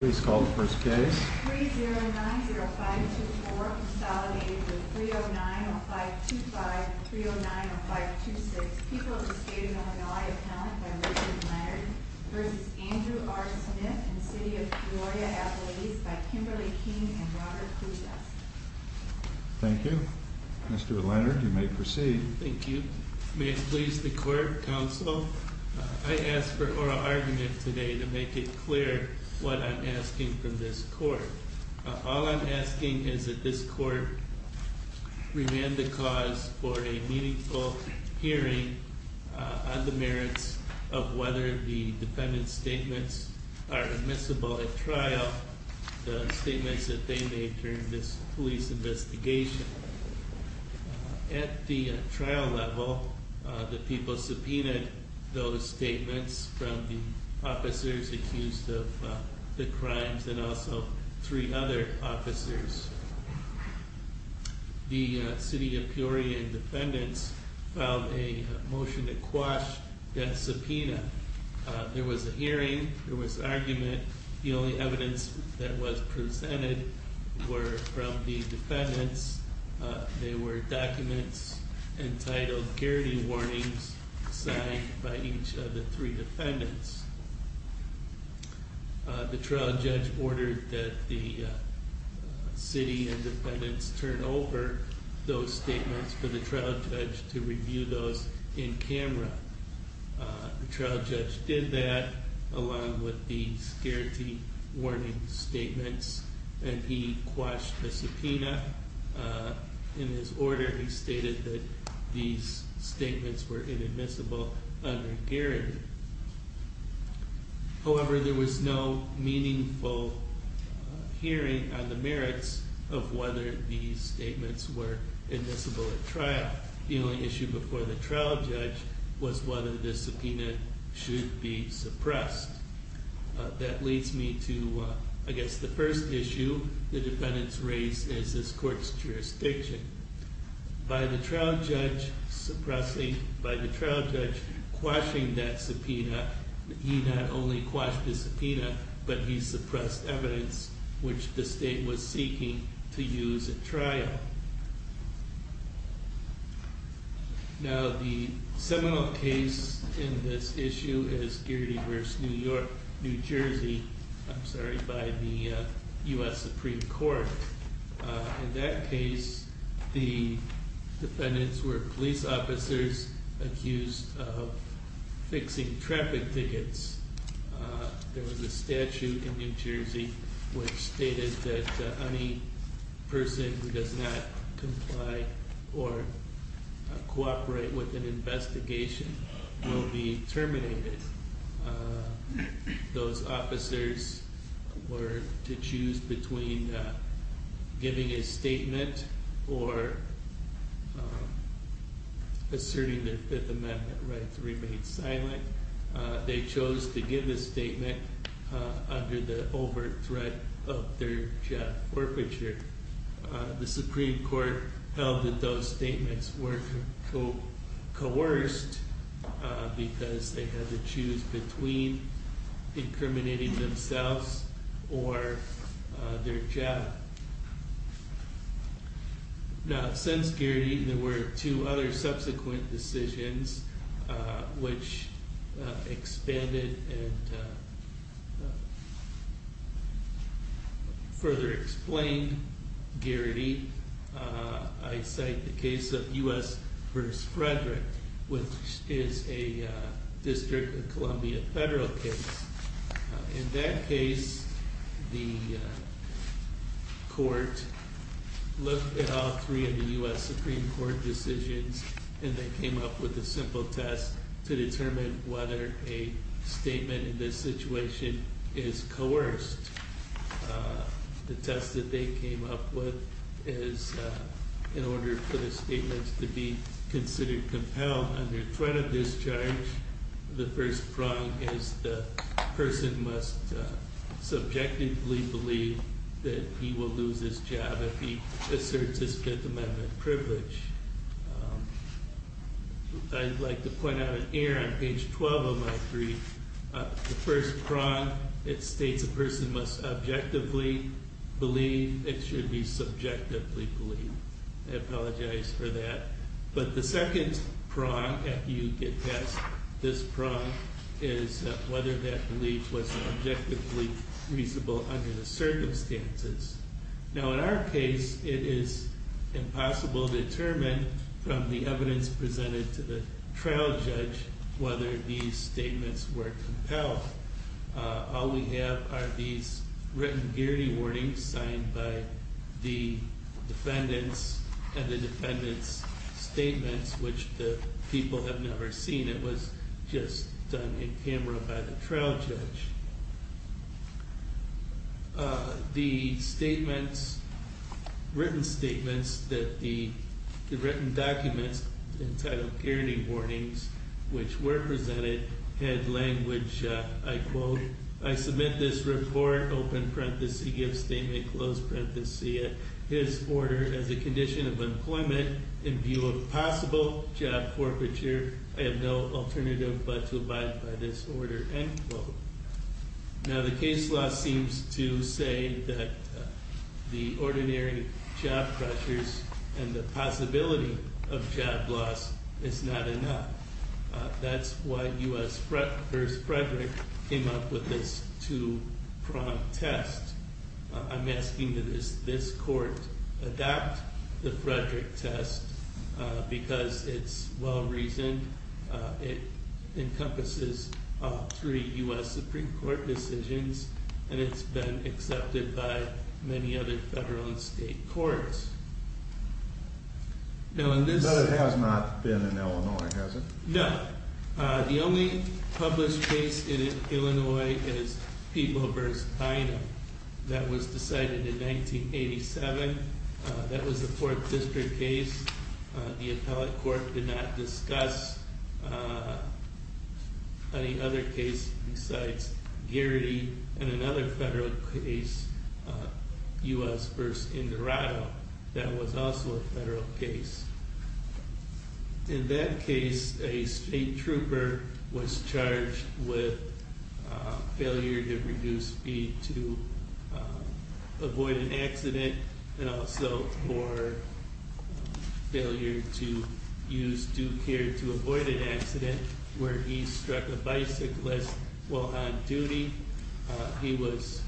3090524 consolidated with 3090525 and 3090526. People of the State of Illinois Appellant by Richard Leonard v. Andrew R. Smith and City of Peoria Appellees by Kimberly King and Robert Pujas. Thank you. Mr. Leonard, you may proceed. Thank you. May it please the Court, Counsel, I ask for oral argument today to make it clear what I'm asking from this Court. All I'm asking is that this Court remand the cause for a meaningful hearing on the merits of whether the defendant's statements are admissible at trial, the statements that they made during this police investigation. At the trial level, the people subpoenaed those statements from the officers accused of the crimes and also three other officers. The City of Peoria defendants filed a motion to quash that subpoena. There was a hearing, there was argument, the only evidence that was presented were from the defendants. They were documents entitled Guarantee Warnings signed by each of the three defendants. The trial judge ordered that the city and defendants turn over those statements for the trial judge to review those in camera. The trial judge did that along with the Guarantee Warnings statements and he quashed the subpoena in his order. He stated that these statements were inadmissible under guarantee. However, there was no meaningful hearing on the merits of whether these statements were admissible at trial. The only issue before the trial judge was whether the subpoena should be suppressed. That leads me to the first issue the defendants raised is this court's jurisdiction. By the trial judge suppressing, by the trial judge quashing that subpoena, he not only quashed the subpoena, but he suppressed evidence which the state was seeking to use at trial. Now the seminal case in this issue is Geardy vs New Jersey by the US Supreme Court. In that case the defendants were police officers accused of fixing traffic tickets. There was a statute in New Jersey which stated that any person who does not comply or cooperate with an investigation will be terminated. Those officers were to choose between giving a statement or asserting their Fifth Amendment rights remained silent. They chose to give a statement under the overt threat of their job forfeiture. The Supreme Court held that those statements were coerced because they had to choose between incriminating themselves or their job. Now since Geardy there were two other subsequent decisions which expanded and further explained Geardy. I cite the case of US vs Frederick which is a District of Columbia federal case. In that case the court looked at all three of the US Supreme Court decisions and they came up with a simple test to determine whether a statement in this situation is coerced. The test that they came up with is in order for the statements to be considered compelled under threat of discharge, the first prong is the person must subjectively believe that he will lose his job if he asserts his Fifth Amendment privilege. I'd like to point out here on page 12 of my brief, the first prong it states a person must objectively believe it should be subjectively believed. I apologize for that. But the second prong after you get past this prong is whether that belief was objectively reasonable under the circumstances. Now in our case it is impossible to determine from the evidence presented to the trial judge whether these statements were compelled. All we have are these written Geardy warnings signed by the defendants and the defendants statements which the people have never seen. It was just done in camera by the trial judge. The statements, written statements that the written documents entitled Geardy warnings which were presented had language, I quote, I submit this report, open parenthesis, give statement, close parenthesis, his order as a condition of employment in view of possible job forfeiture. I have no alternative but to abide by this order, end quote. Now the case law seems to say that the ordinary job pressures and the possibility of job loss is not enough. That's why U.S. versus Frederick came up with this two prong test. I'm asking that this court adapt the Frederick test because it's well reasoned. It encompasses three U.S. Supreme Court decisions and it's been accepted by many other federal and state courts. But it has not been in Illinois, has it? That was also a federal case. In that case, a state trooper was charged with failure to reduce speed to avoid an accident and also for failure to use due care to avoid an accident where he struck a bicyclist while on duty. He was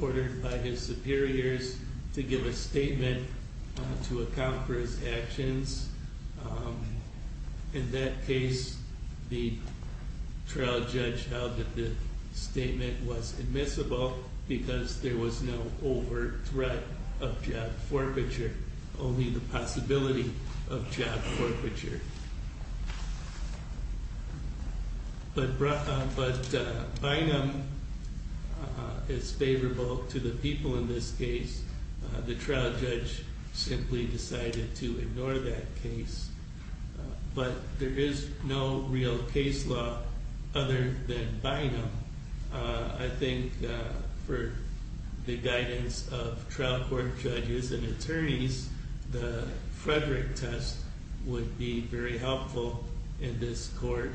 ordered by his superiors to give a statement to account for his actions. In that case, the trial judge held that the statement was admissible because there was no overt threat of job forfeiture, only the possibility of job forfeiture. But Bynum is favorable to the people in this case. The trial judge simply decided to ignore that case. But there is no real case law other than Bynum. I think for the guidance of trial court judges and attorneys, the Frederick test would be very helpful in this court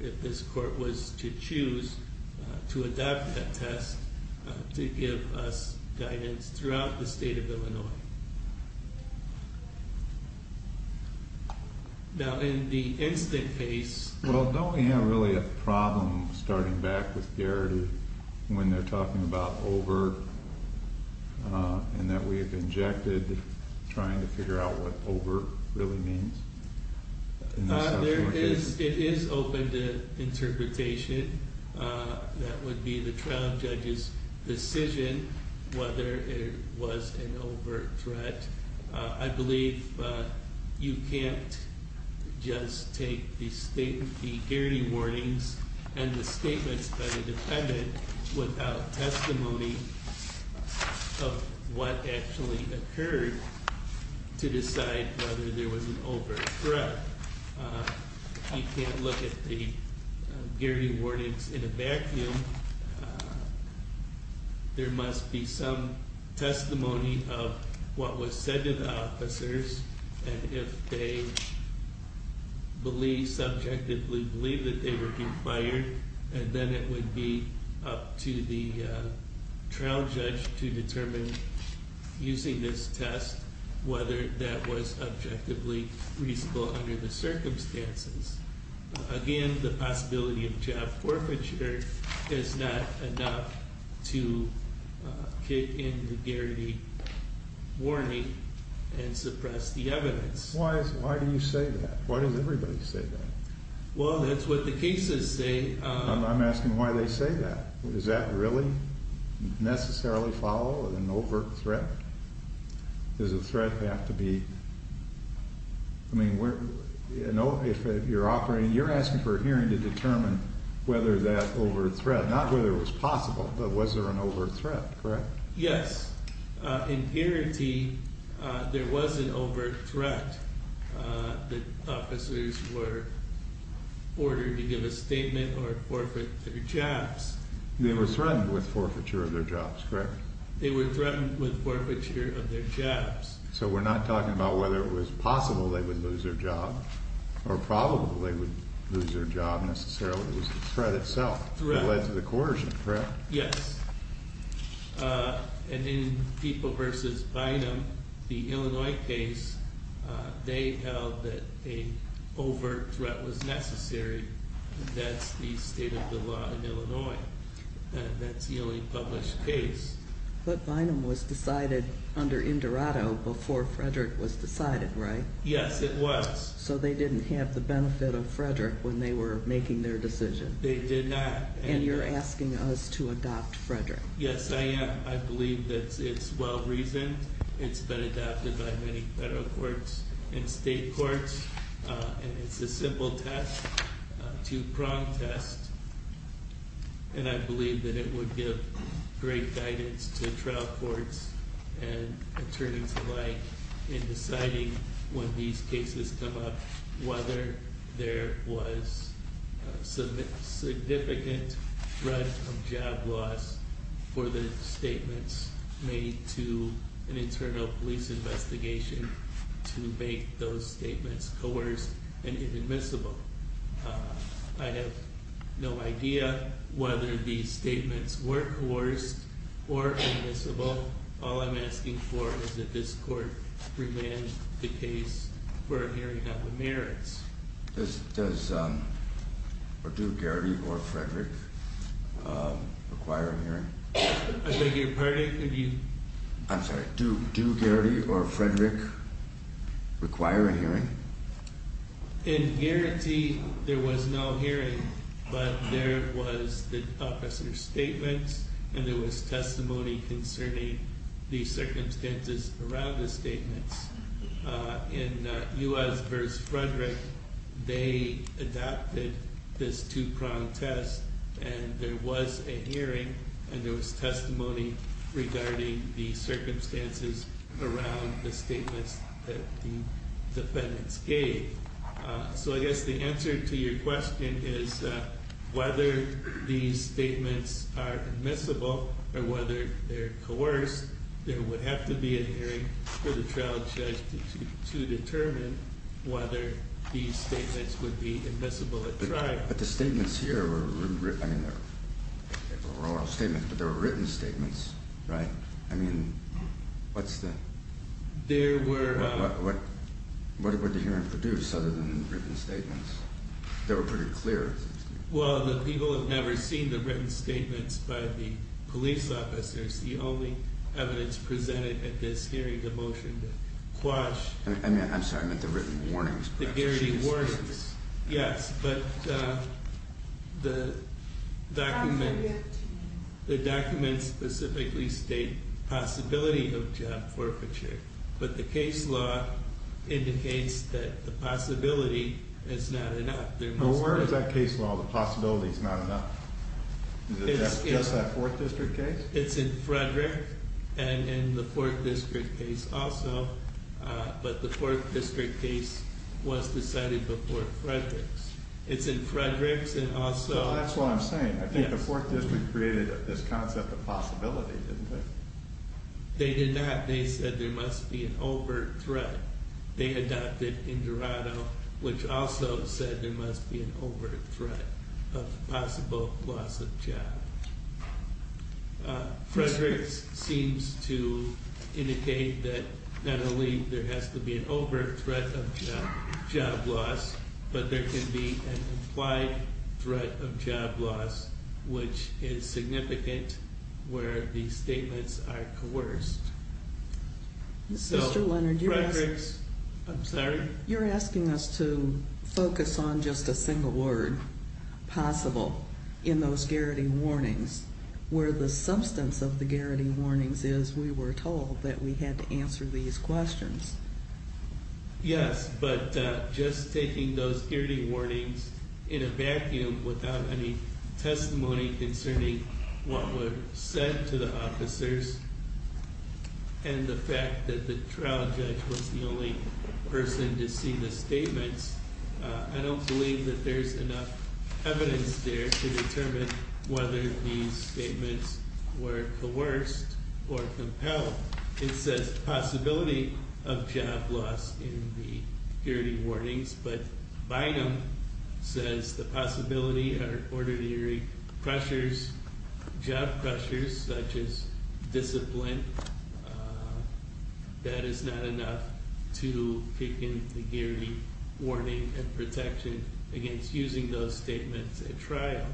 if this court was to choose to adapt that test to give us guidance throughout the state of Illinois. Now in the instant case... Well, don't we have really a problem starting back with Garrity when they're talking about overt and that we've injected trying to figure out what overt really means? It is open to interpretation. That would be the trial judge's decision whether it was an overt threat. I believe you can't just take the Garrity warnings and the statements by the defendant without testimony of what actually occurred to decide whether there was an overt threat. You can't look at the Garrity warnings in a vacuum. There must be some testimony of what was said to the officers. And if they believe, subjectively believe that they were being fired, then it would be up to the trial judge to determine, using this test, whether that was objectively reasonable under the circumstances. Again, the possibility of job forfeiture is not enough to kick in the Garrity warning and suppress the evidence. Why do you say that? Why does everybody say that? Well, that's what the cases say. I'm asking why they say that. Does that really necessarily follow an overt threat? Does a threat have to be... I mean, if you're operating, you're asking for a hearing to determine whether that overt threat, not whether it was possible, but was there an overt threat, correct? Yes. In Garrity, there was an overt threat. The officers were ordered to give a statement or forfeit their jobs. They were threatened with forfeiture of their jobs, correct? They were threatened with forfeiture of their jobs. So we're not talking about whether it was possible they would lose their job, or probable they would lose their job necessarily. It was the threat itself that led to the coercion, correct? Yes. And in People v. Bynum, the Illinois case, they held that an overt threat was necessary. That's the state of the law in Illinois. That's the only published case. But Bynum was decided under Indorado before Frederick was decided, right? Yes, it was. So they didn't have the benefit of Frederick when they were making their decision. They did not. And you're asking us to adopt Frederick. Yes, I am. I believe that it's well-reasoned. It's been adopted by many federal courts and state courts. And it's a simple test, a two-pronged test, and I believe that it would give great guidance to trial courts and attorneys alike in deciding when these cases come up whether there was significant threat of job loss for the statements made to an internal police investigation to make those statements coerced and inadmissible. I have no idea whether these statements were coerced or inadmissible. All I'm asking for is that this court remand the case for a hearing on the merits. Does, or do, Garrity or Frederick require a hearing? I beg your pardon? I'm sorry. Do Garrity or Frederick require a hearing? In Garrity, there was no hearing, but there was the officer's statements and there was testimony concerning the circumstances around the statements. In U.S. v. Frederick, they adopted this two-pronged test and there was a hearing and there was testimony regarding the circumstances around the statements that the defendants gave. So I guess the answer to your question is whether these statements are admissible or whether they're coerced, there would have to be a hearing for the trial judge to determine whether these statements would be admissible at trial. But the statements here were written statements, right? I mean, what's the... There were... What would the hearing produce other than written statements? They were pretty clear. Well, the people have never seen the written statements by the police officers. The only evidence presented at this hearing is the motion to quash... I'm sorry, I meant the written warnings. The Garrity warnings, yes, but the documents specifically state possibility of job forfeiture, but the case law indicates that the possibility is not enough. But where is that case law, the possibility is not enough? Is it just that Fourth District case? It's in Frederick and in the Fourth District case also, but the Fourth District case was decided before Frederick's. It's in Frederick's and also... Well, that's what I'm saying. I think the Fourth District created this concept of possibility, didn't they? They did not. They said there must be an overt threat. They adopted Indorado, which also said there must be an overt threat of possible loss of job. Frederick's seems to indicate that not only there has to be an overt threat of job loss, but there can be an implied threat of job loss, which is significant where these statements are coerced. Mr. Leonard, you're asking us to focus on just a single word, possible, in those Garrity warnings, where the substance of the Garrity warnings is we were told that we had to answer these questions. Yes, but just taking those Garrity warnings in a vacuum without any testimony concerning what was said to the officers and the fact that the trial judge was the only person to see the statements, I don't believe that there's enough evidence there to determine whether these statements were coerced or compelled. It says possibility of job loss in the Garrity warnings, but Bynum says the possibility are ordinary pressures, job pressures such as discipline. That is not enough to kick in the Garrity warning and protection against using those statements at trial.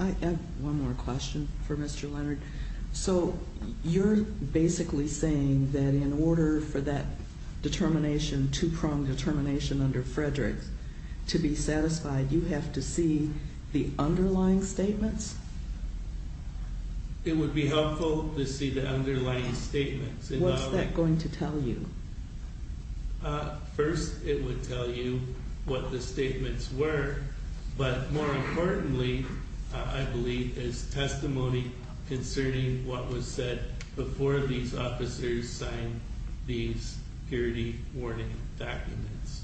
I have one more question for Mr. Leonard. So you're basically saying that in order for that determination, two-pronged determination under Frederick to be satisfied, you have to see the underlying statements? It would be helpful to see the underlying statements. What's that going to tell you? First, it would tell you what the statements were, but more importantly, I believe, is testimony concerning what was said before these officers signed these Garrity warning documents.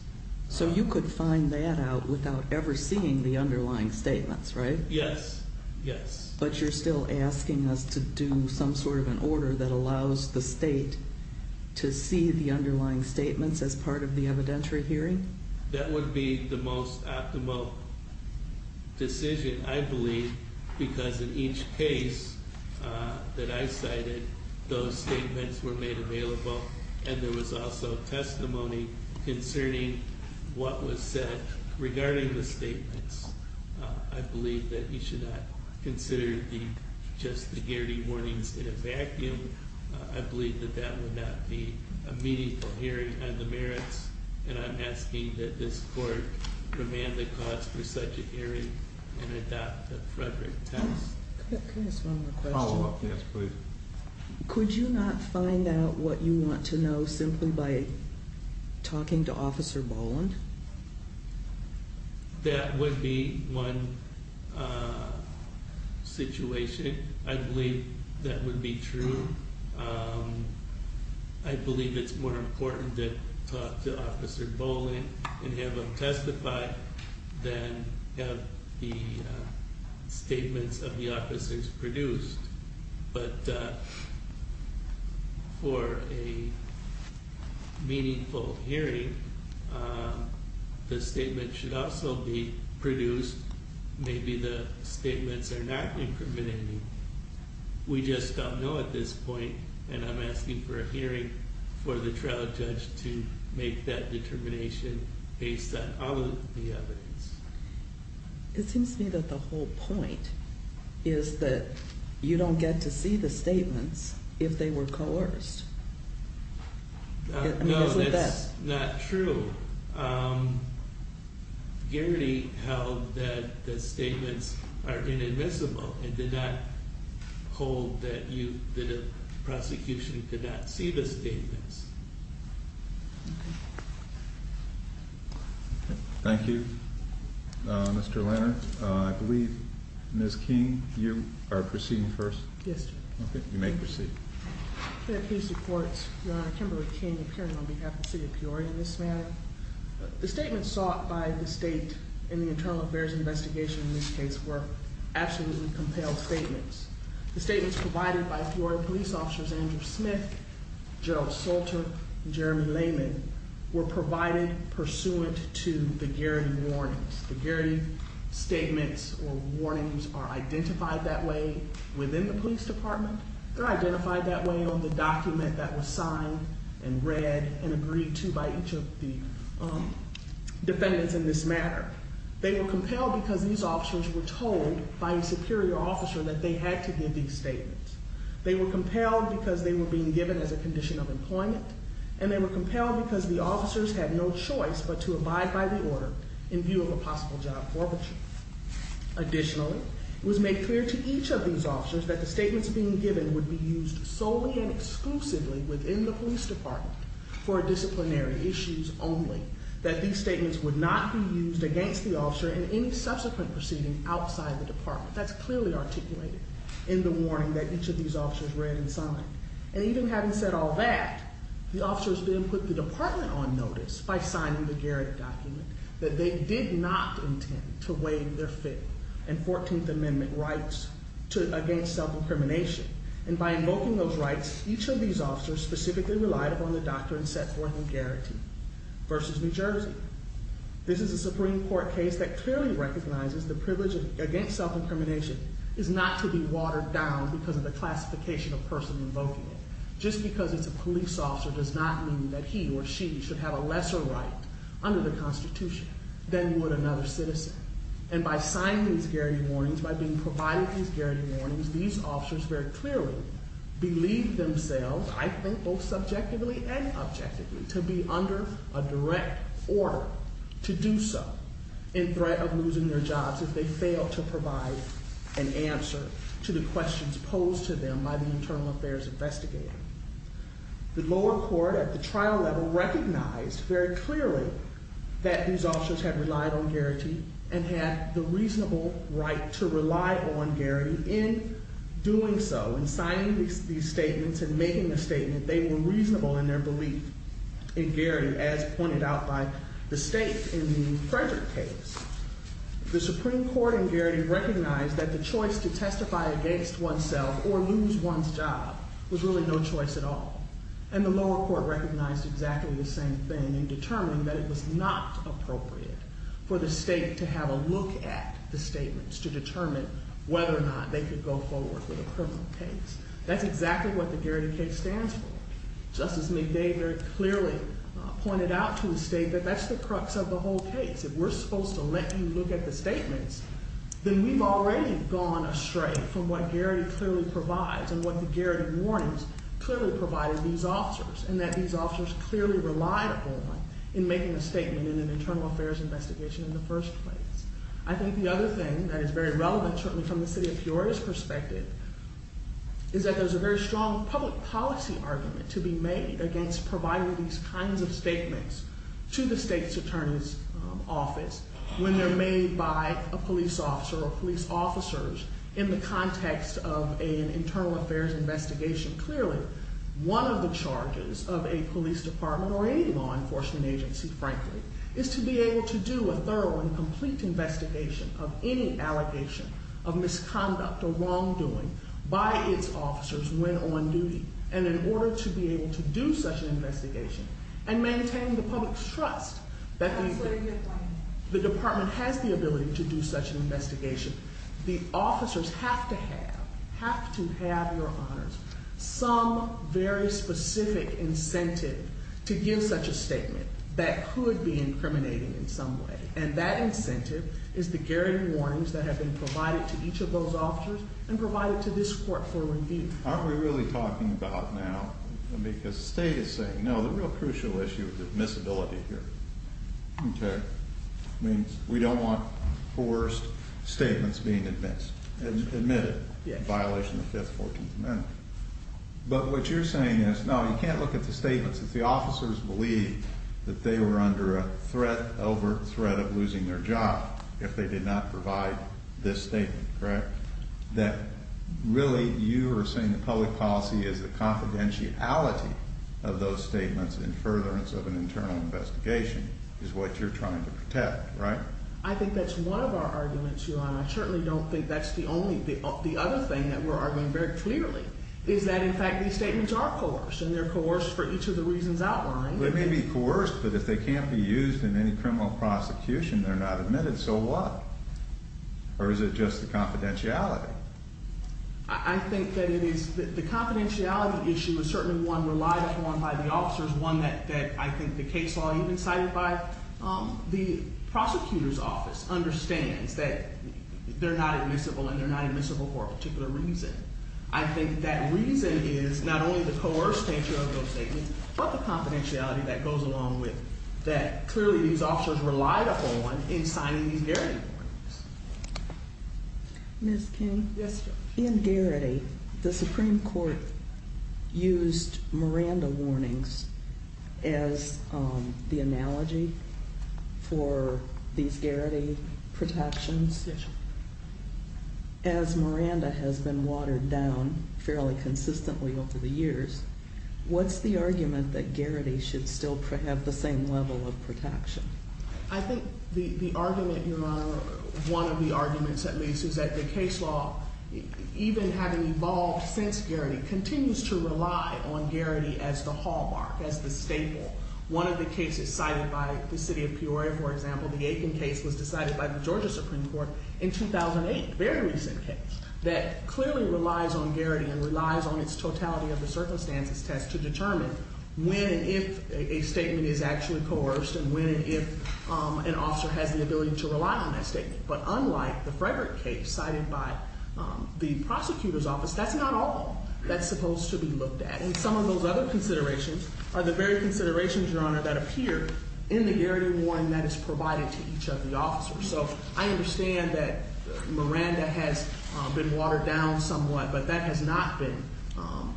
So you could find that out without ever seeing the underlying statements, right? Yes, yes. But you're still asking us to do some sort of an order that allows the state to see the underlying statements as part of the evidentiary hearing? That would be the most optimal decision, I believe, because in each case that I cited, those statements were made available, and there was also testimony concerning what was said regarding the statements. I believe that you should not consider just the Garrity warnings in a vacuum. I believe that that would not be a meaningful hearing on the merits, and I'm asking that this court demand the cause for such a hearing and adopt the Frederick test. Can I ask one more question? Follow-up, yes, please. Could you not find out what you want to know simply by talking to Officer Boland? That would be one situation. I believe that would be true. I believe it's more important to talk to Officer Boland and have him testify than have the statements of the officers produced. But for a meaningful hearing, the statement should also be produced. Maybe the statements are not incriminating. We just don't know at this point, and I'm asking for a hearing for the trial judge to make that determination based on all of the evidence. It seems to me that the whole point is that you don't get to see the statements if they were coerced. No, that's not true. Garrity held that the statements are inadmissible and did not hold that the prosecution could not see the statements. Thank you, Mr. Leonard. I believe, Ms. King, you are proceeding first. Yes, sir. Okay, you may proceed. Your Honor, Kimberly King, appearing on behalf of the city of Peoria in this matter. The statements sought by the state in the internal affairs investigation in this case were absolutely compelled statements. The statements provided by Peoria police officers Andrew Smith, Gerald Sulter, and Jeremy Layman were provided pursuant to the Garrity warnings. The Garrity statements or warnings are identified that way within the police department. They're identified that way on the document that was signed and read and agreed to by each of the defendants in this matter. They were compelled because these officers were told by a superior officer that they had to give these statements. They were compelled because they were being given as a condition of employment. And they were compelled because the officers had no choice but to abide by the order in view of a possible job forfeiture. Additionally, it was made clear to each of these officers that the statements being given would be used solely and exclusively within the police department for disciplinary issues only, that these statements would not be used against the officer in any subsequent proceeding outside the department. That's clearly articulated in the warning that each of these officers read and signed. And even having said all that, the officers then put the department on notice by signing the Garrity document that they did not intend to waive their Fifth and 14th Amendment rights against self-incrimination. And by invoking those rights, each of these officers specifically relied upon the doctrine set forth in Garrity versus New Jersey. This is a Supreme Court case that clearly recognizes the privilege against self-incrimination is not to be watered down because of the classification of person invoking it. Just because it's a police officer does not mean that he or she should have a lesser right under the Constitution than would another citizen. And by signing these Garrity warnings, by being provided these Garrity warnings, these officers very clearly believed themselves, I think both subjectively and objectively, to be under a direct order to do so in threat of losing their jobs if they failed to provide an answer to the questions posed to them by the internal affairs investigator. The lower court at the trial level recognized very clearly that these officers had relied on Garrity and had the reasonable right to rely on Garrity. In doing so, in signing these statements and making the statement, they were reasonable in their belief in Garrity as pointed out by the state in the Frederick case. The Supreme Court in Garrity recognized that the choice to testify against oneself or lose one's job was really no choice at all. And the lower court recognized exactly the same thing in determining that it was not appropriate for the state to have a look at the statements to determine whether or not they could go forward with a criminal case. That's exactly what the Garrity case stands for. Justice McDavid clearly pointed out to the state that that's the crux of the whole case. If we're supposed to let you look at the statements, then we've already gone astray from what Garrity clearly provides and what the Garrity warnings clearly provided these officers. And that these officers clearly relied on in making a statement in an internal affairs investigation in the first place. I think the other thing that is very relevant, certainly from the city of Peoria's perspective, is that there's a very strong public policy argument to be made against providing these kinds of statements to the state's attorney's office when they're made by a police officer or police officers in the context of an internal affairs investigation. Clearly, one of the charges of a police department or any law enforcement agency, frankly, is to be able to do a thorough and complete investigation of any allegation of misconduct or wrongdoing by its officers when on duty. And in order to be able to do such an investigation and maintain the public's trust that the department has the ability to do such an investigation, the officers have to have, have to have your honors. Some very specific incentive to give such a statement that could be incriminating in some way. And that incentive is the Garrity warnings that have been provided to each of those officers and provided to this court for review. Aren't we really talking about now, because the state is saying, no, the real crucial issue is admissibility here. Okay. I mean, we don't want coerced statements being admitted in violation of the 5th, 14th Amendment. But what you're saying is, no, you can't look at the statements if the officers believe that they were under a threat, overt threat of losing their job if they did not provide this statement, correct? That really you are saying the public policy is the confidentiality of those statements in furtherance of an internal investigation is what you're trying to protect, right? I think that's one of our arguments, Your Honor. I certainly don't think that's the only, the other thing that we're arguing very clearly is that, in fact, these statements are coerced and they're coerced for each of the reasons outlined. They may be coerced, but if they can't be used in any criminal prosecution, they're not admitted. So what? Or is it just the confidentiality? I think that it is, the confidentiality issue is certainly one relied upon by the officers, one that I think the case law even cited by the prosecutor's office understands that they're not admissible and they're not admissible for a particular reason. I think that reason is not only the coerced nature of those statements, but the confidentiality that goes along with that. Clearly, these officers relied upon in signing these Garrity warnings. Ms. King? Yes, Your Honor. In Garrity, the Supreme Court used Miranda warnings as the analogy for these Garrity protections. Yes, Your Honor. As Miranda has been watered down fairly consistently over the years, what's the argument that Garrity should still have the same level of protection? I think the argument, Your Honor, one of the arguments at least, is that the case law, even having evolved since Garrity, continues to rely on Garrity as the hallmark, as the staple. One of the cases cited by the city of Peoria, for example, the Aiken case, was decided by the Georgia Supreme Court in 2008, a very recent case, that clearly relies on Garrity and relies on its totality of the circumstances test to determine when and if a statement is actually coerced and when and if an officer has the ability to rely on that statement. But unlike the Frederick case cited by the prosecutor's office, that's not all that's supposed to be looked at. And some of those other considerations are the very considerations, Your Honor, that appear in the Garrity warning that is provided to each of the officers. So I understand that Miranda has been watered down somewhat, but that has not been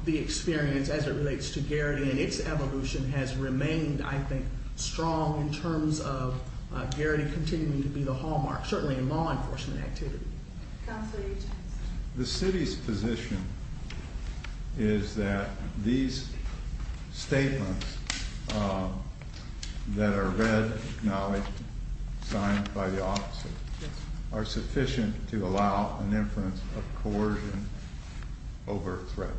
the experience as it relates to Garrity, and its evolution has remained, I think, strong in terms of Garrity continuing to be the hallmark, certainly in law enforcement activity. Counsel, your chance. The city's position is that these statements that are read, acknowledged, signed by the officers are sufficient to allow an inference of coercion over threats.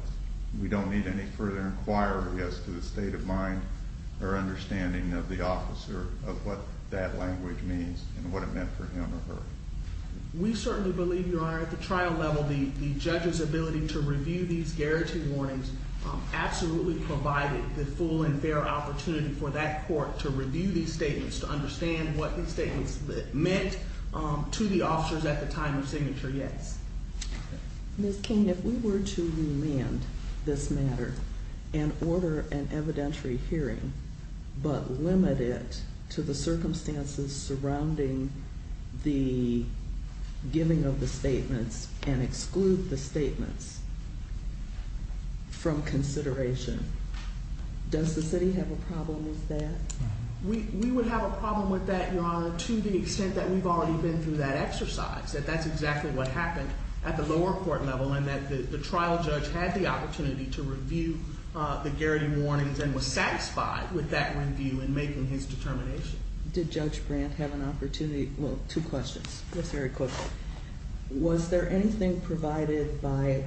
We don't need any further inquiry as to the state of mind or understanding of the officer of what that language means and what it meant for him or her. We certainly believe, Your Honor, at the trial level, the judge's ability to review these Garrity warnings absolutely provided the full and fair opportunity for that court to review these statements to understand what these statements meant to the officers at the time of signature, yes. Ms. King, if we were to amend this matter and order an evidentiary hearing, but limit it to the circumstances surrounding the giving of the statements and exclude the statements from consideration, does the city have a problem with that? We would have a problem with that, Your Honor, to the extent that we've already been through that exercise, that that's exactly what happened at the lower court level, and that the trial judge had the opportunity to review the Garrity warnings and was satisfied with that review in making his determination. Did Judge Brandt have an opportunity – well, two questions. Yes, very quickly. Was there anything provided by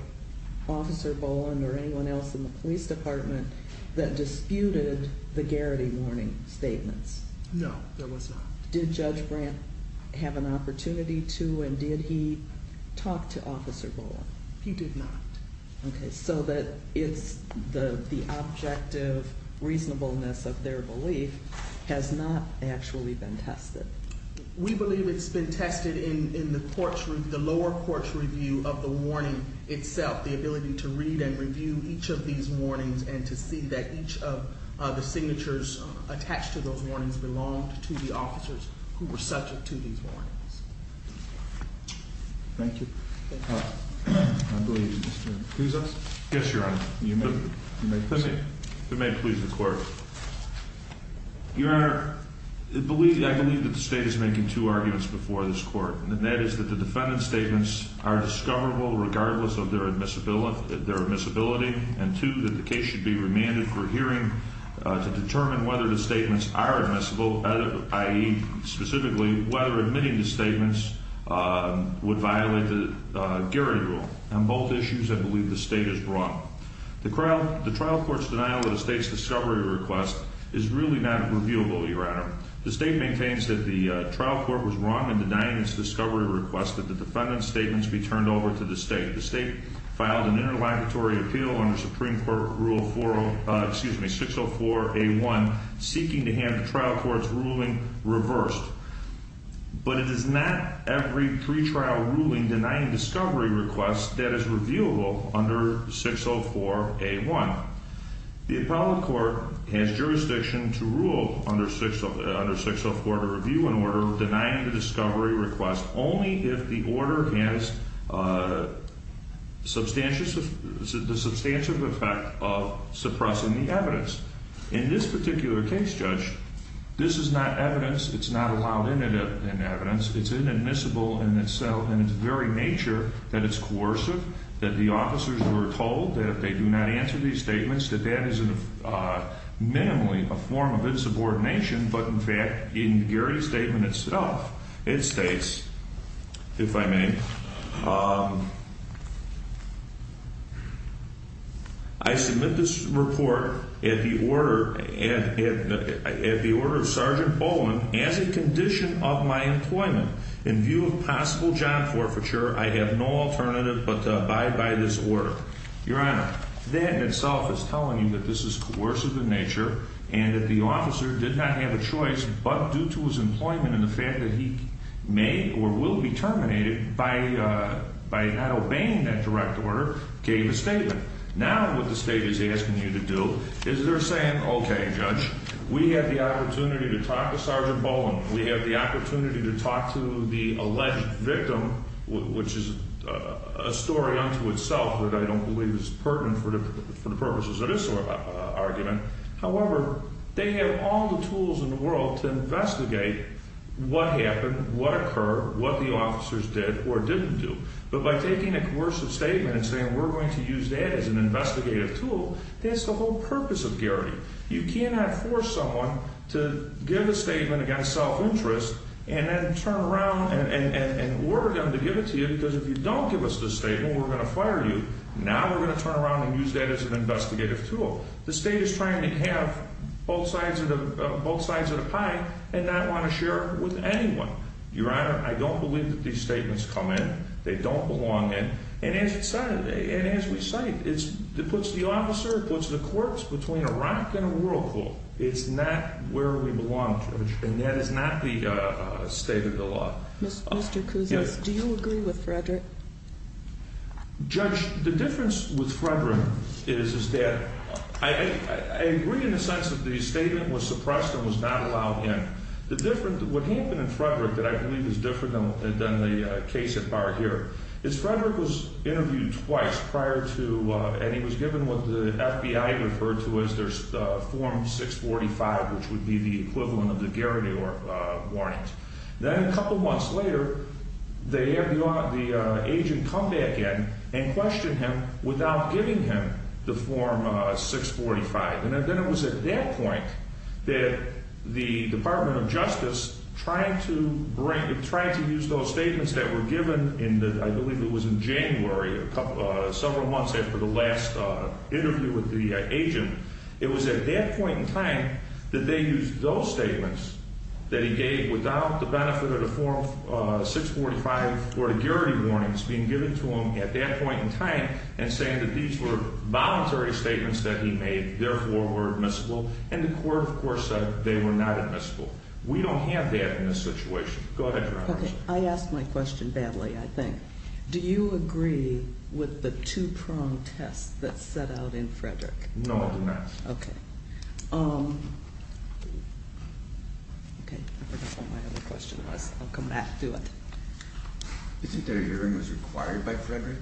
Officer Boland or anyone else in the police department that disputed the Garrity warning statements? No, there was not. Did Judge Brandt have an opportunity to, and did he talk to Officer Boland? He did not. Okay, so the objective reasonableness of their belief has not actually been tested. We believe it's been tested in the lower court's review of the warning itself, the ability to read and review each of these warnings and to see that each of the signatures attached to those warnings belonged to the officers who were subject to these warnings. Thank you. I believe Mr. Kuzos? Yes, Your Honor. You may proceed. If it may please the Court. Your Honor, I believe that the State is making two arguments before this Court, and that is that the defendant's statements are discoverable regardless of their admissibility, and two, that the case should be remanded for hearing to determine whether the statements are admissible, i.e., specifically, whether admitting the statements would violate the Garrity rule. On both issues, I believe the State is wrong. The trial court's denial of the State's discovery request is really not reviewable, Your Honor. The State maintains that the trial court was wrong in denying its discovery request that the defendant's statements be turned over to the State. The State filed an interlocutory appeal under Supreme Court Rule 604A1, seeking to have the trial court's ruling reversed. But it is not every pretrial ruling denying discovery requests that is reviewable under 604A1. The appellate court has jurisdiction to rule under 604 to review an order denying the discovery request only if the order has the substantive effect of suppressing the evidence. In this particular case, Judge, this is not evidence. It's not allowed in evidence. It's inadmissible in itself, and it's very nature that it's coercive, that the officers were told that if they do not answer these statements, that that is minimally a form of insubordination. But, in fact, in the Garrity statement itself, it states, if I may, I submit this report at the order of Sergeant Bowen as a condition of my employment. In view of possible job forfeiture, I have no alternative but to abide by this order. Your Honor, that in itself is telling you that this is coercive in nature and that the officer did not have a choice, but due to his employment and the fact that he may or will be terminated by not obeying that direct order, gave a statement. Now what the State is asking you to do is they're saying, okay, Judge, we have the opportunity to talk to Sergeant Bowen. We have the opportunity to talk to the alleged victim, which is a story unto itself that I don't believe is pertinent for the purposes of this argument. However, they have all the tools in the world to investigate what happened, what occurred, what the officers did or didn't do. But by taking a coercive statement and saying we're going to use that as an investigative tool, that's the whole purpose of Garrity. You cannot force someone to give a statement against self-interest and then turn around and order them to give it to you because if you don't give us this statement, we're going to fire you. Now we're going to turn around and use that as an investigative tool. The State is trying to have both sides of the pie and not want to share it with anyone. Your Honor, I don't believe that these statements come in. They don't belong in. And as we cite, it puts the officer, it puts the courts between a rock and a whirlpool. It's not where we belong, Judge, and that is not the state of the law. Mr. Kouzis, do you agree with Frederick? Judge, the difference with Frederick is that I agree in the sense that the statement was suppressed and was not allowed in. What happened in Frederick that I believe is different than the case at Bar here is Frederick was interviewed twice prior to, and he was given what the FBI referred to as Form 645, which would be the equivalent of the Garrity warrant. Then a couple months later, the agent come back in and questioned him without giving him the Form 645. And then it was at that point that the Department of Justice tried to use those statements that were given in, I believe it was in January, several months after the last interview with the agent. It was at that point in time that they used those statements that he gave without the benefit of the Form 645 or the Garrity warnings being given to him at that point in time and saying that these were voluntary statements that he made, therefore were admissible. And the court, of course, said they were not admissible. We don't have that in this situation. Go ahead, Your Honor. Okay. I asked my question badly, I think. Do you agree with the two-prong test that set out in Frederick? No, I do not. Okay. Okay. I forgot what my other question was. I'll come back to it. Do you think that a hearing was required by Frederick?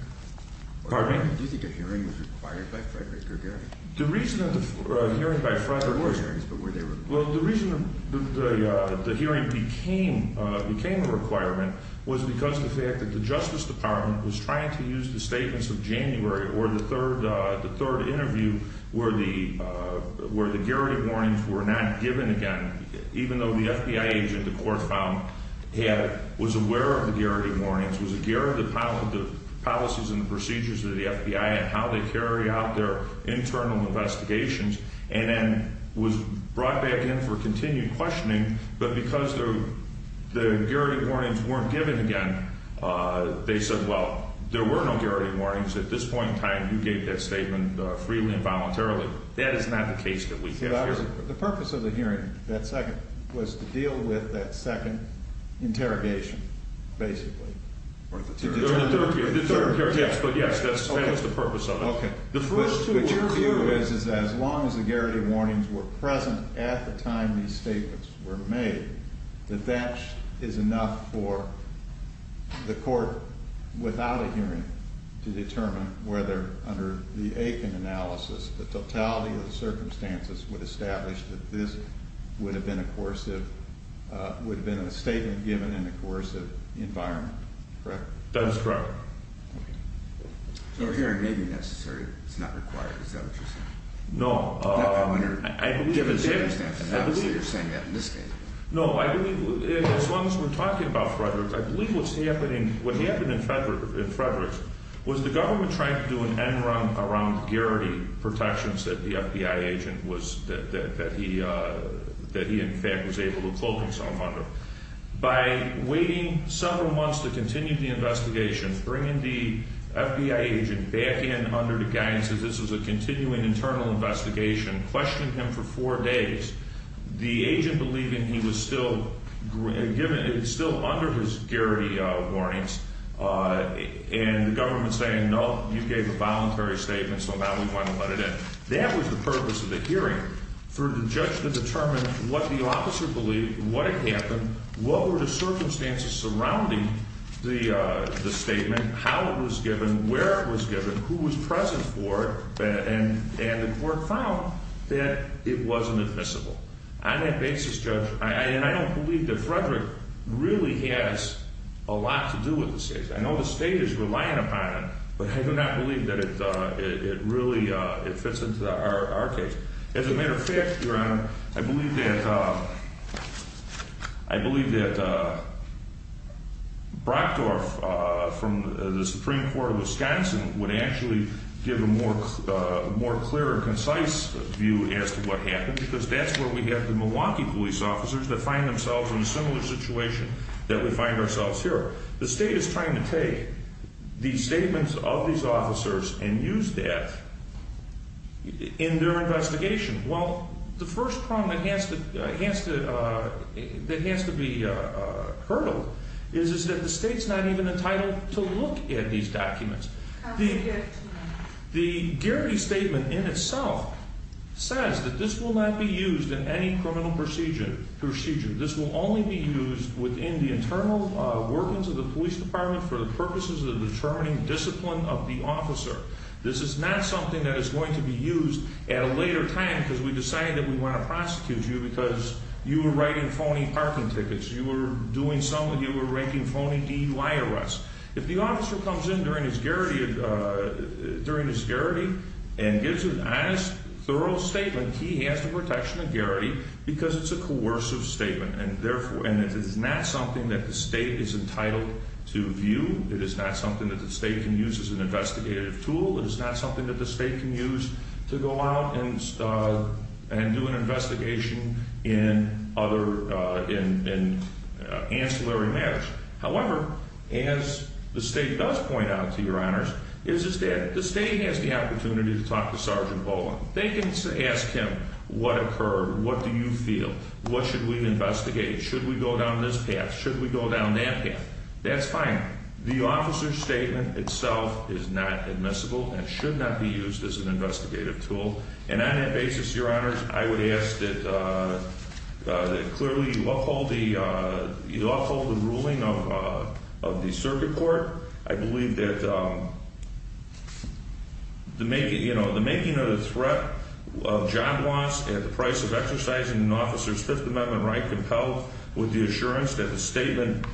Pardon me? Do you think a hearing was required by Frederick or Garrity? The reason that the hearing by Frederick— There were hearings, but were they required? Well, the reason the hearing became a requirement was because of the fact that the Justice Department was trying to use the statements of January or the third interview where the Garrity warnings were not given again, even though the FBI agent the court found was aware of the Garrity warnings, was aware of the policies and procedures of the FBI and how they carry out their internal investigations, and then was brought back in for continued questioning, but because the Garrity warnings weren't given again, they said, well, there were no Garrity warnings. At this point in time, you gave that statement freely and voluntarily. That is not the case that we have here. The purpose of the hearing, that second, was to deal with that second interrogation, basically. Or the third. The third, yes, but yes, that's the purpose of it. Okay. But your view is that as long as the Garrity warnings were present at the time these statements were made, that that is enough for the court, without a hearing, to determine whether, under the Aiken analysis, the totality of the circumstances would establish that this would have been a statement given in a coercive environment, correct? That is correct. Okay. So a hearing may be necessary. It's not required. Is that what you're saying? No. Not under given circumstances. I believe that. I believe you're saying that in this case. No, I believe, as long as we're talking about Frederick's, I believe what's happening, what happened in Frederick's was the government trying to do an end run around Garrity protections that the FBI agent was, that he, in fact, was able to cloak himself under. By waiting several months to continue the investigation, bringing the FBI agent back in under the guidance that this was a continuing internal investigation, questioning him for four days, the agent believing he was still under his Garrity warnings, and the government saying, no, you gave a voluntary statement, so now we want to let it in. That was the purpose of the hearing, for the judge to determine what the officer believed, what had happened, what were the circumstances surrounding the statement, how it was given, where it was given, who was present for it, and the court found that it wasn't admissible. On that basis, Judge, and I don't believe that Frederick really has a lot to do with this case. I know the state is relying upon it, but I do not believe that it really fits into our case. As a matter of fact, Your Honor, I believe that Brockdorf from the Supreme Court of Wisconsin would actually give a more clear and concise view as to what happened, because that's where we have the Milwaukee police officers that find themselves in a similar situation that we find ourselves here. The state is trying to take the statements of these officers and use that in their investigation. Well, the first problem that has to be hurdled is that the state's not even entitled to look at these documents. The Garrity statement in itself says that this will not be used in any criminal procedure. This will only be used within the internal workings of the police department for the purposes of determining discipline of the officer. This is not something that is going to be used at a later time because we decided that we want to prosecute you because you were writing phony parking tickets. You were doing something. You were ranking phony DUI arrests. If the officer comes in during his Garrity and gives an honest, thorough statement, he has the protection of Garrity because it's a coercive statement, and it is not something that the state is entitled to view. It is not something that the state can use as an investigative tool. It is not something that the state can use to go out and do an investigation in ancillary matters. However, as the state does point out, to your honors, the state has the opportunity to talk to Sergeant Bowen. They can ask him, what occurred? What do you feel? What should we investigate? Should we go down this path? Should we go down that path? That's fine. The officer's statement itself is not admissible and should not be used as an investigative tool. And on that basis, your honors, I would ask that clearly you uphold the ruling of the circuit court. I believe that the making of the threat of job loss at the price of exercising an officer's Fifth Amendment right, compelled with the assurance that the statement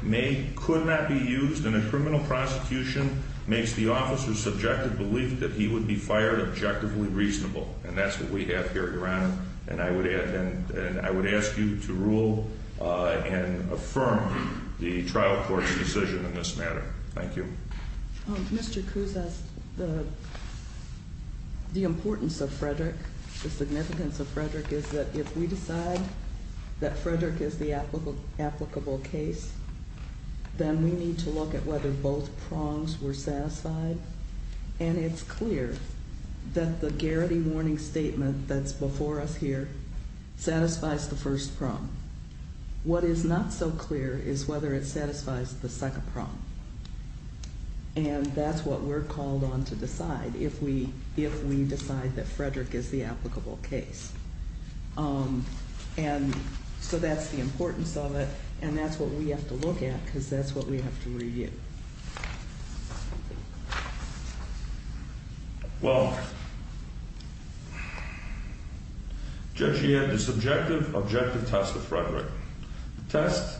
could not be used in a criminal prosecution, makes the officer's subjective belief that he would be fired objectively reasonable. And that's what we have here, your honor. And I would ask you to rule and affirm the trial court's decision in this matter. Thank you. Mr. Kuzas, the importance of Frederick, the significance of Frederick is that if we decide that Frederick is the applicable case, then we need to look at whether both prongs were satisfied. And it's clear that the Garrity warning statement that's before us here satisfies the first prong. What is not so clear is whether it satisfies the second prong. And that's what we're called on to decide if we decide that Frederick is the applicable case. And so that's the importance of it. And that's what we have to look at because that's what we have to review. Well, Judge, you had the subjective objective test of Frederick. The test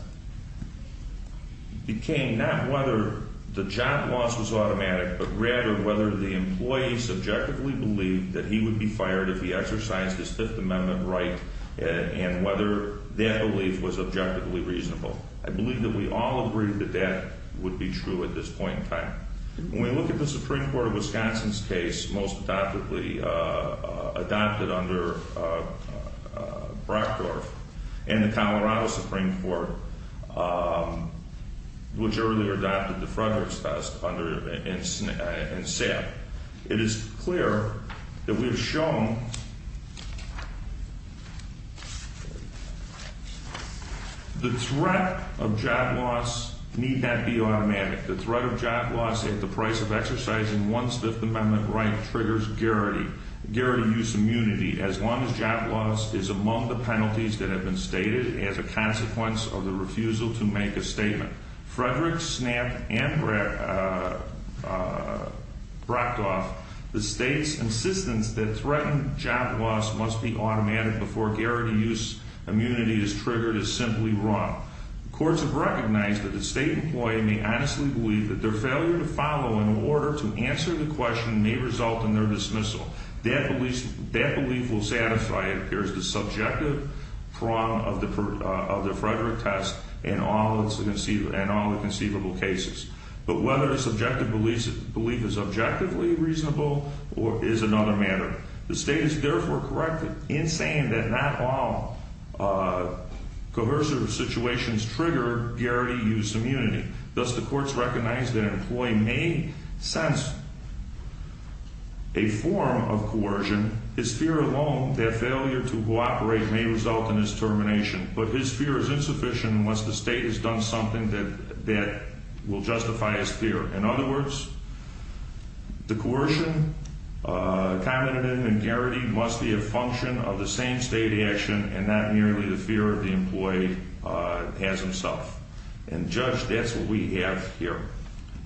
became not whether the job loss was automatic, but rather whether the employee subjectively believed that he would be fired if he exercised his Fifth Amendment right and whether that belief was objectively reasonable. I believe that we all agree that that would be true at this point in time. When we look at the Supreme Court of Wisconsin's case, which is most adoptively adopted under Brockdorf, and the Colorado Supreme Court, which earlier adopted the Frederick's test, under and sat, it is clear that we have shown the threat of job loss need not be automatic. The threat of job loss at the price of exercising one's Fifth Amendment right triggers guaranteed use immunity as long as job loss is among the penalties that have been stated as a consequence of the refusal to make a statement. Frederick, Snapp, and Brockdorf, the state's insistence that threatened job loss must be automatic before guaranteed use immunity is triggered is simply wrong. Courts have recognized that the state employee may honestly believe that their failure to follow in order to answer the question may result in their dismissal. That belief will satisfy, it appears, the subjective prong of the Frederick test in all the conceivable cases. But whether the subjective belief is objectively reasonable is another matter. The state is therefore correct in saying that not all coercive situations trigger guaranteed use immunity. Thus, the courts recognize that an employee may sense a form of coercion, his fear alone that failure to cooperate may result in his termination, but his fear is insufficient unless the state has done something that will justify his fear. In other words, the coercion commented in and guaranteed must be a function of the same state action and not merely the fear of the employee as himself. And, Judge, that's what we have here.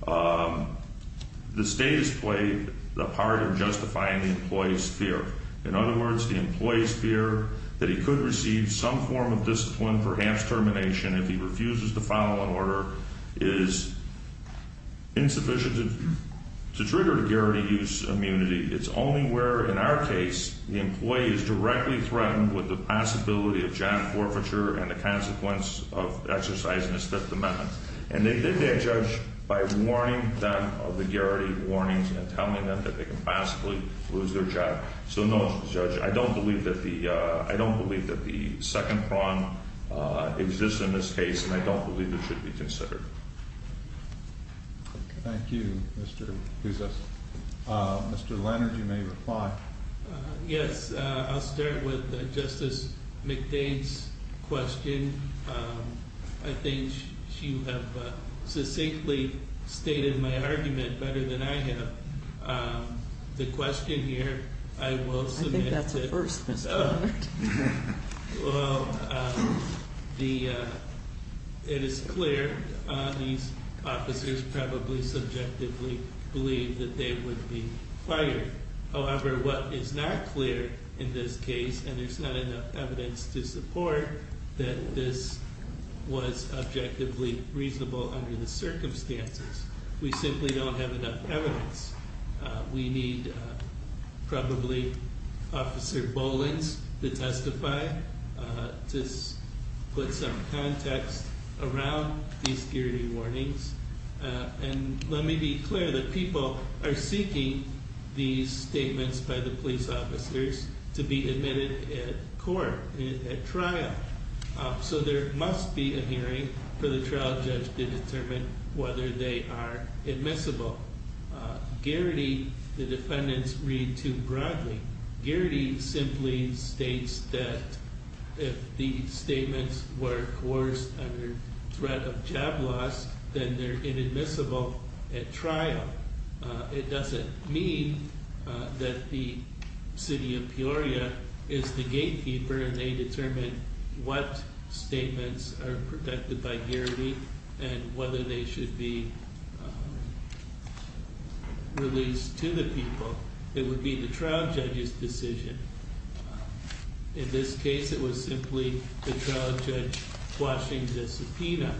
The state has played the part of justifying the employee's fear. In other words, the employee's fear that he could receive some form of discipline, perhaps termination, if he refuses to follow in order is insufficient to trigger the guaranteed use immunity. It's only where, in our case, the employee is directly threatened with the possibility of job forfeiture and the consequence of exercising a stiff amendment. And they did that, Judge, by warning them of the guaranteed warnings and telling them that they could possibly lose their job. So, no, Judge, I don't believe that the second prong exists in this case, and I don't believe it should be considered. Thank you, Mr. Pouzas. Mr. Leonard, you may reply. Yes, I'll start with Justice McDade's question. I think she would have succinctly stated my argument better than I have. The question here, I will submit that- I think that's a first, Mr. Leonard. Well, it is clear these officers probably subjectively believe that they would be fired. However, what is not clear in this case, and there's not enough evidence to support that this was objectively reasonable under the circumstances, we simply don't have enough evidence. We need, probably, Officer Bolings to testify to put some context around these guaranteed warnings. And let me be clear that people are seeking these statements by the police officers to be admitted at court, at trial. So there must be a hearing for the trial judge to determine whether they are admissible. Guaranteed, the defendants read too broadly. Guaranteed simply states that if the statements were coerced under threat of job loss, then they're inadmissible at trial. It doesn't mean that the city of Peoria is the gatekeeper and they determine what statements are protected by guarantee and whether they should be released to the people. It would be the trial judge's decision. In this case, it was simply the trial judge quashing the subpoena.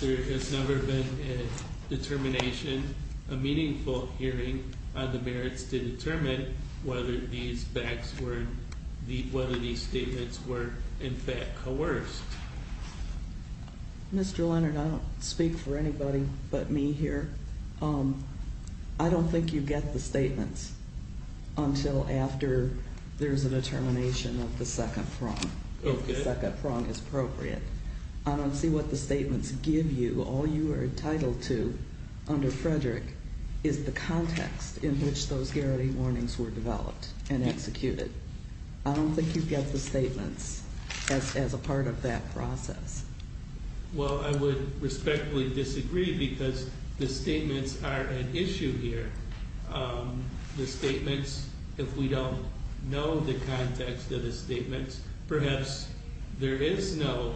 There has never been a determination, a meaningful hearing, on the merits to determine whether these statements were, in fact, coerced. Mr. Leonard, I don't speak for anybody but me here. I don't think you get the statements until after there's a determination of the second prong, if the second prong is appropriate. I don't see what the statements give you. All you are entitled to under Frederick is the context in which those guarantee warnings were developed and executed. I don't think you get the statements as a part of that process. Well, I would respectfully disagree because the statements are an issue here. The statements, if we don't know the context of the statements, perhaps there is no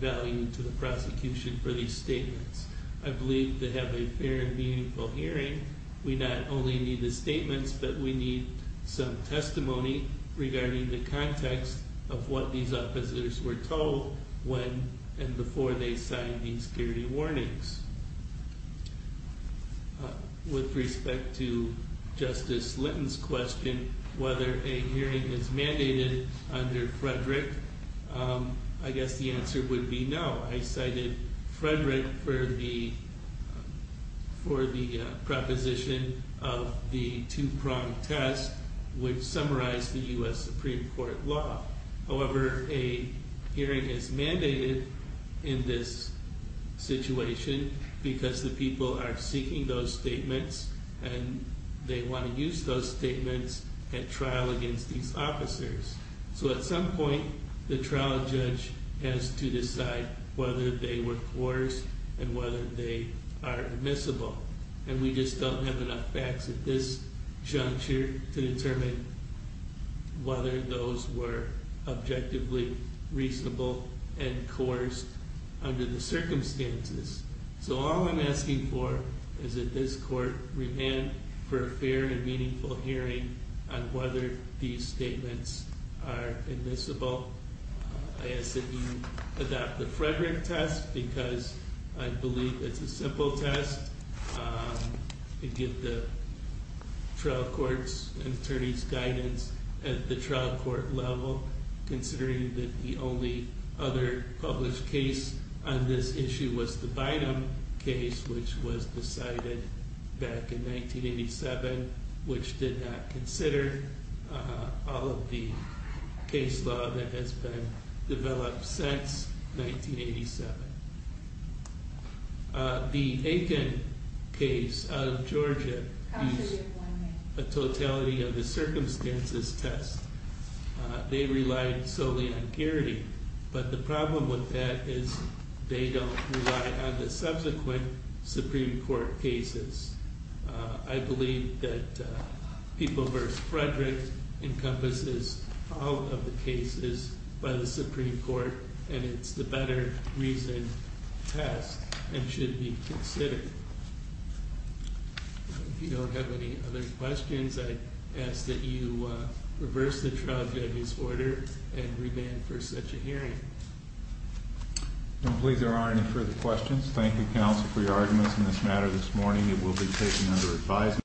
value to the prosecution for these statements. I believe to have a fair and meaningful hearing, we not only need the statements, but we need some testimony regarding the context of what these officers were told when and before they signed these guarantee warnings. With respect to Justice Linton's question, whether a hearing is mandated under Frederick, I guess the answer would be no. I cited Frederick for the proposition of the two-prong test, which summarized the U.S. Supreme Court law. However, a hearing is mandated in this situation because the people are seeking those statements and they want to use those statements at trial against these officers. At some point, the trial judge has to decide whether they were coerced and whether they are admissible. We just don't have enough facts at this juncture to determine whether those were objectively reasonable and coerced under the circumstances. So all I'm asking for is that this Court remand for a fair and meaningful hearing on whether these statements are admissible. I ask that you adopt the Frederick test because I believe it's a simple test. You get the trial court's attorney's guidance at the trial court level, considering that the only other published case on this issue was the Bynum case, which was decided back in 1987, which did not consider all of the case law that has been developed since 1987. The Aiken case out of Georgia is a totality of the circumstances test. They relied solely on parity, but the problem with that is they don't rely on the subsequent Supreme Court cases. I believe that People v. Frederick encompasses all of the cases by the Supreme Court, and it's the better reason test and should be considered. If you don't have any other questions, I ask that you reverse the trial judge's order and remand for such a hearing. I don't believe there are any further questions. Thank you, counsel, for your arguments in this matter this morning. It will be taken under advisement.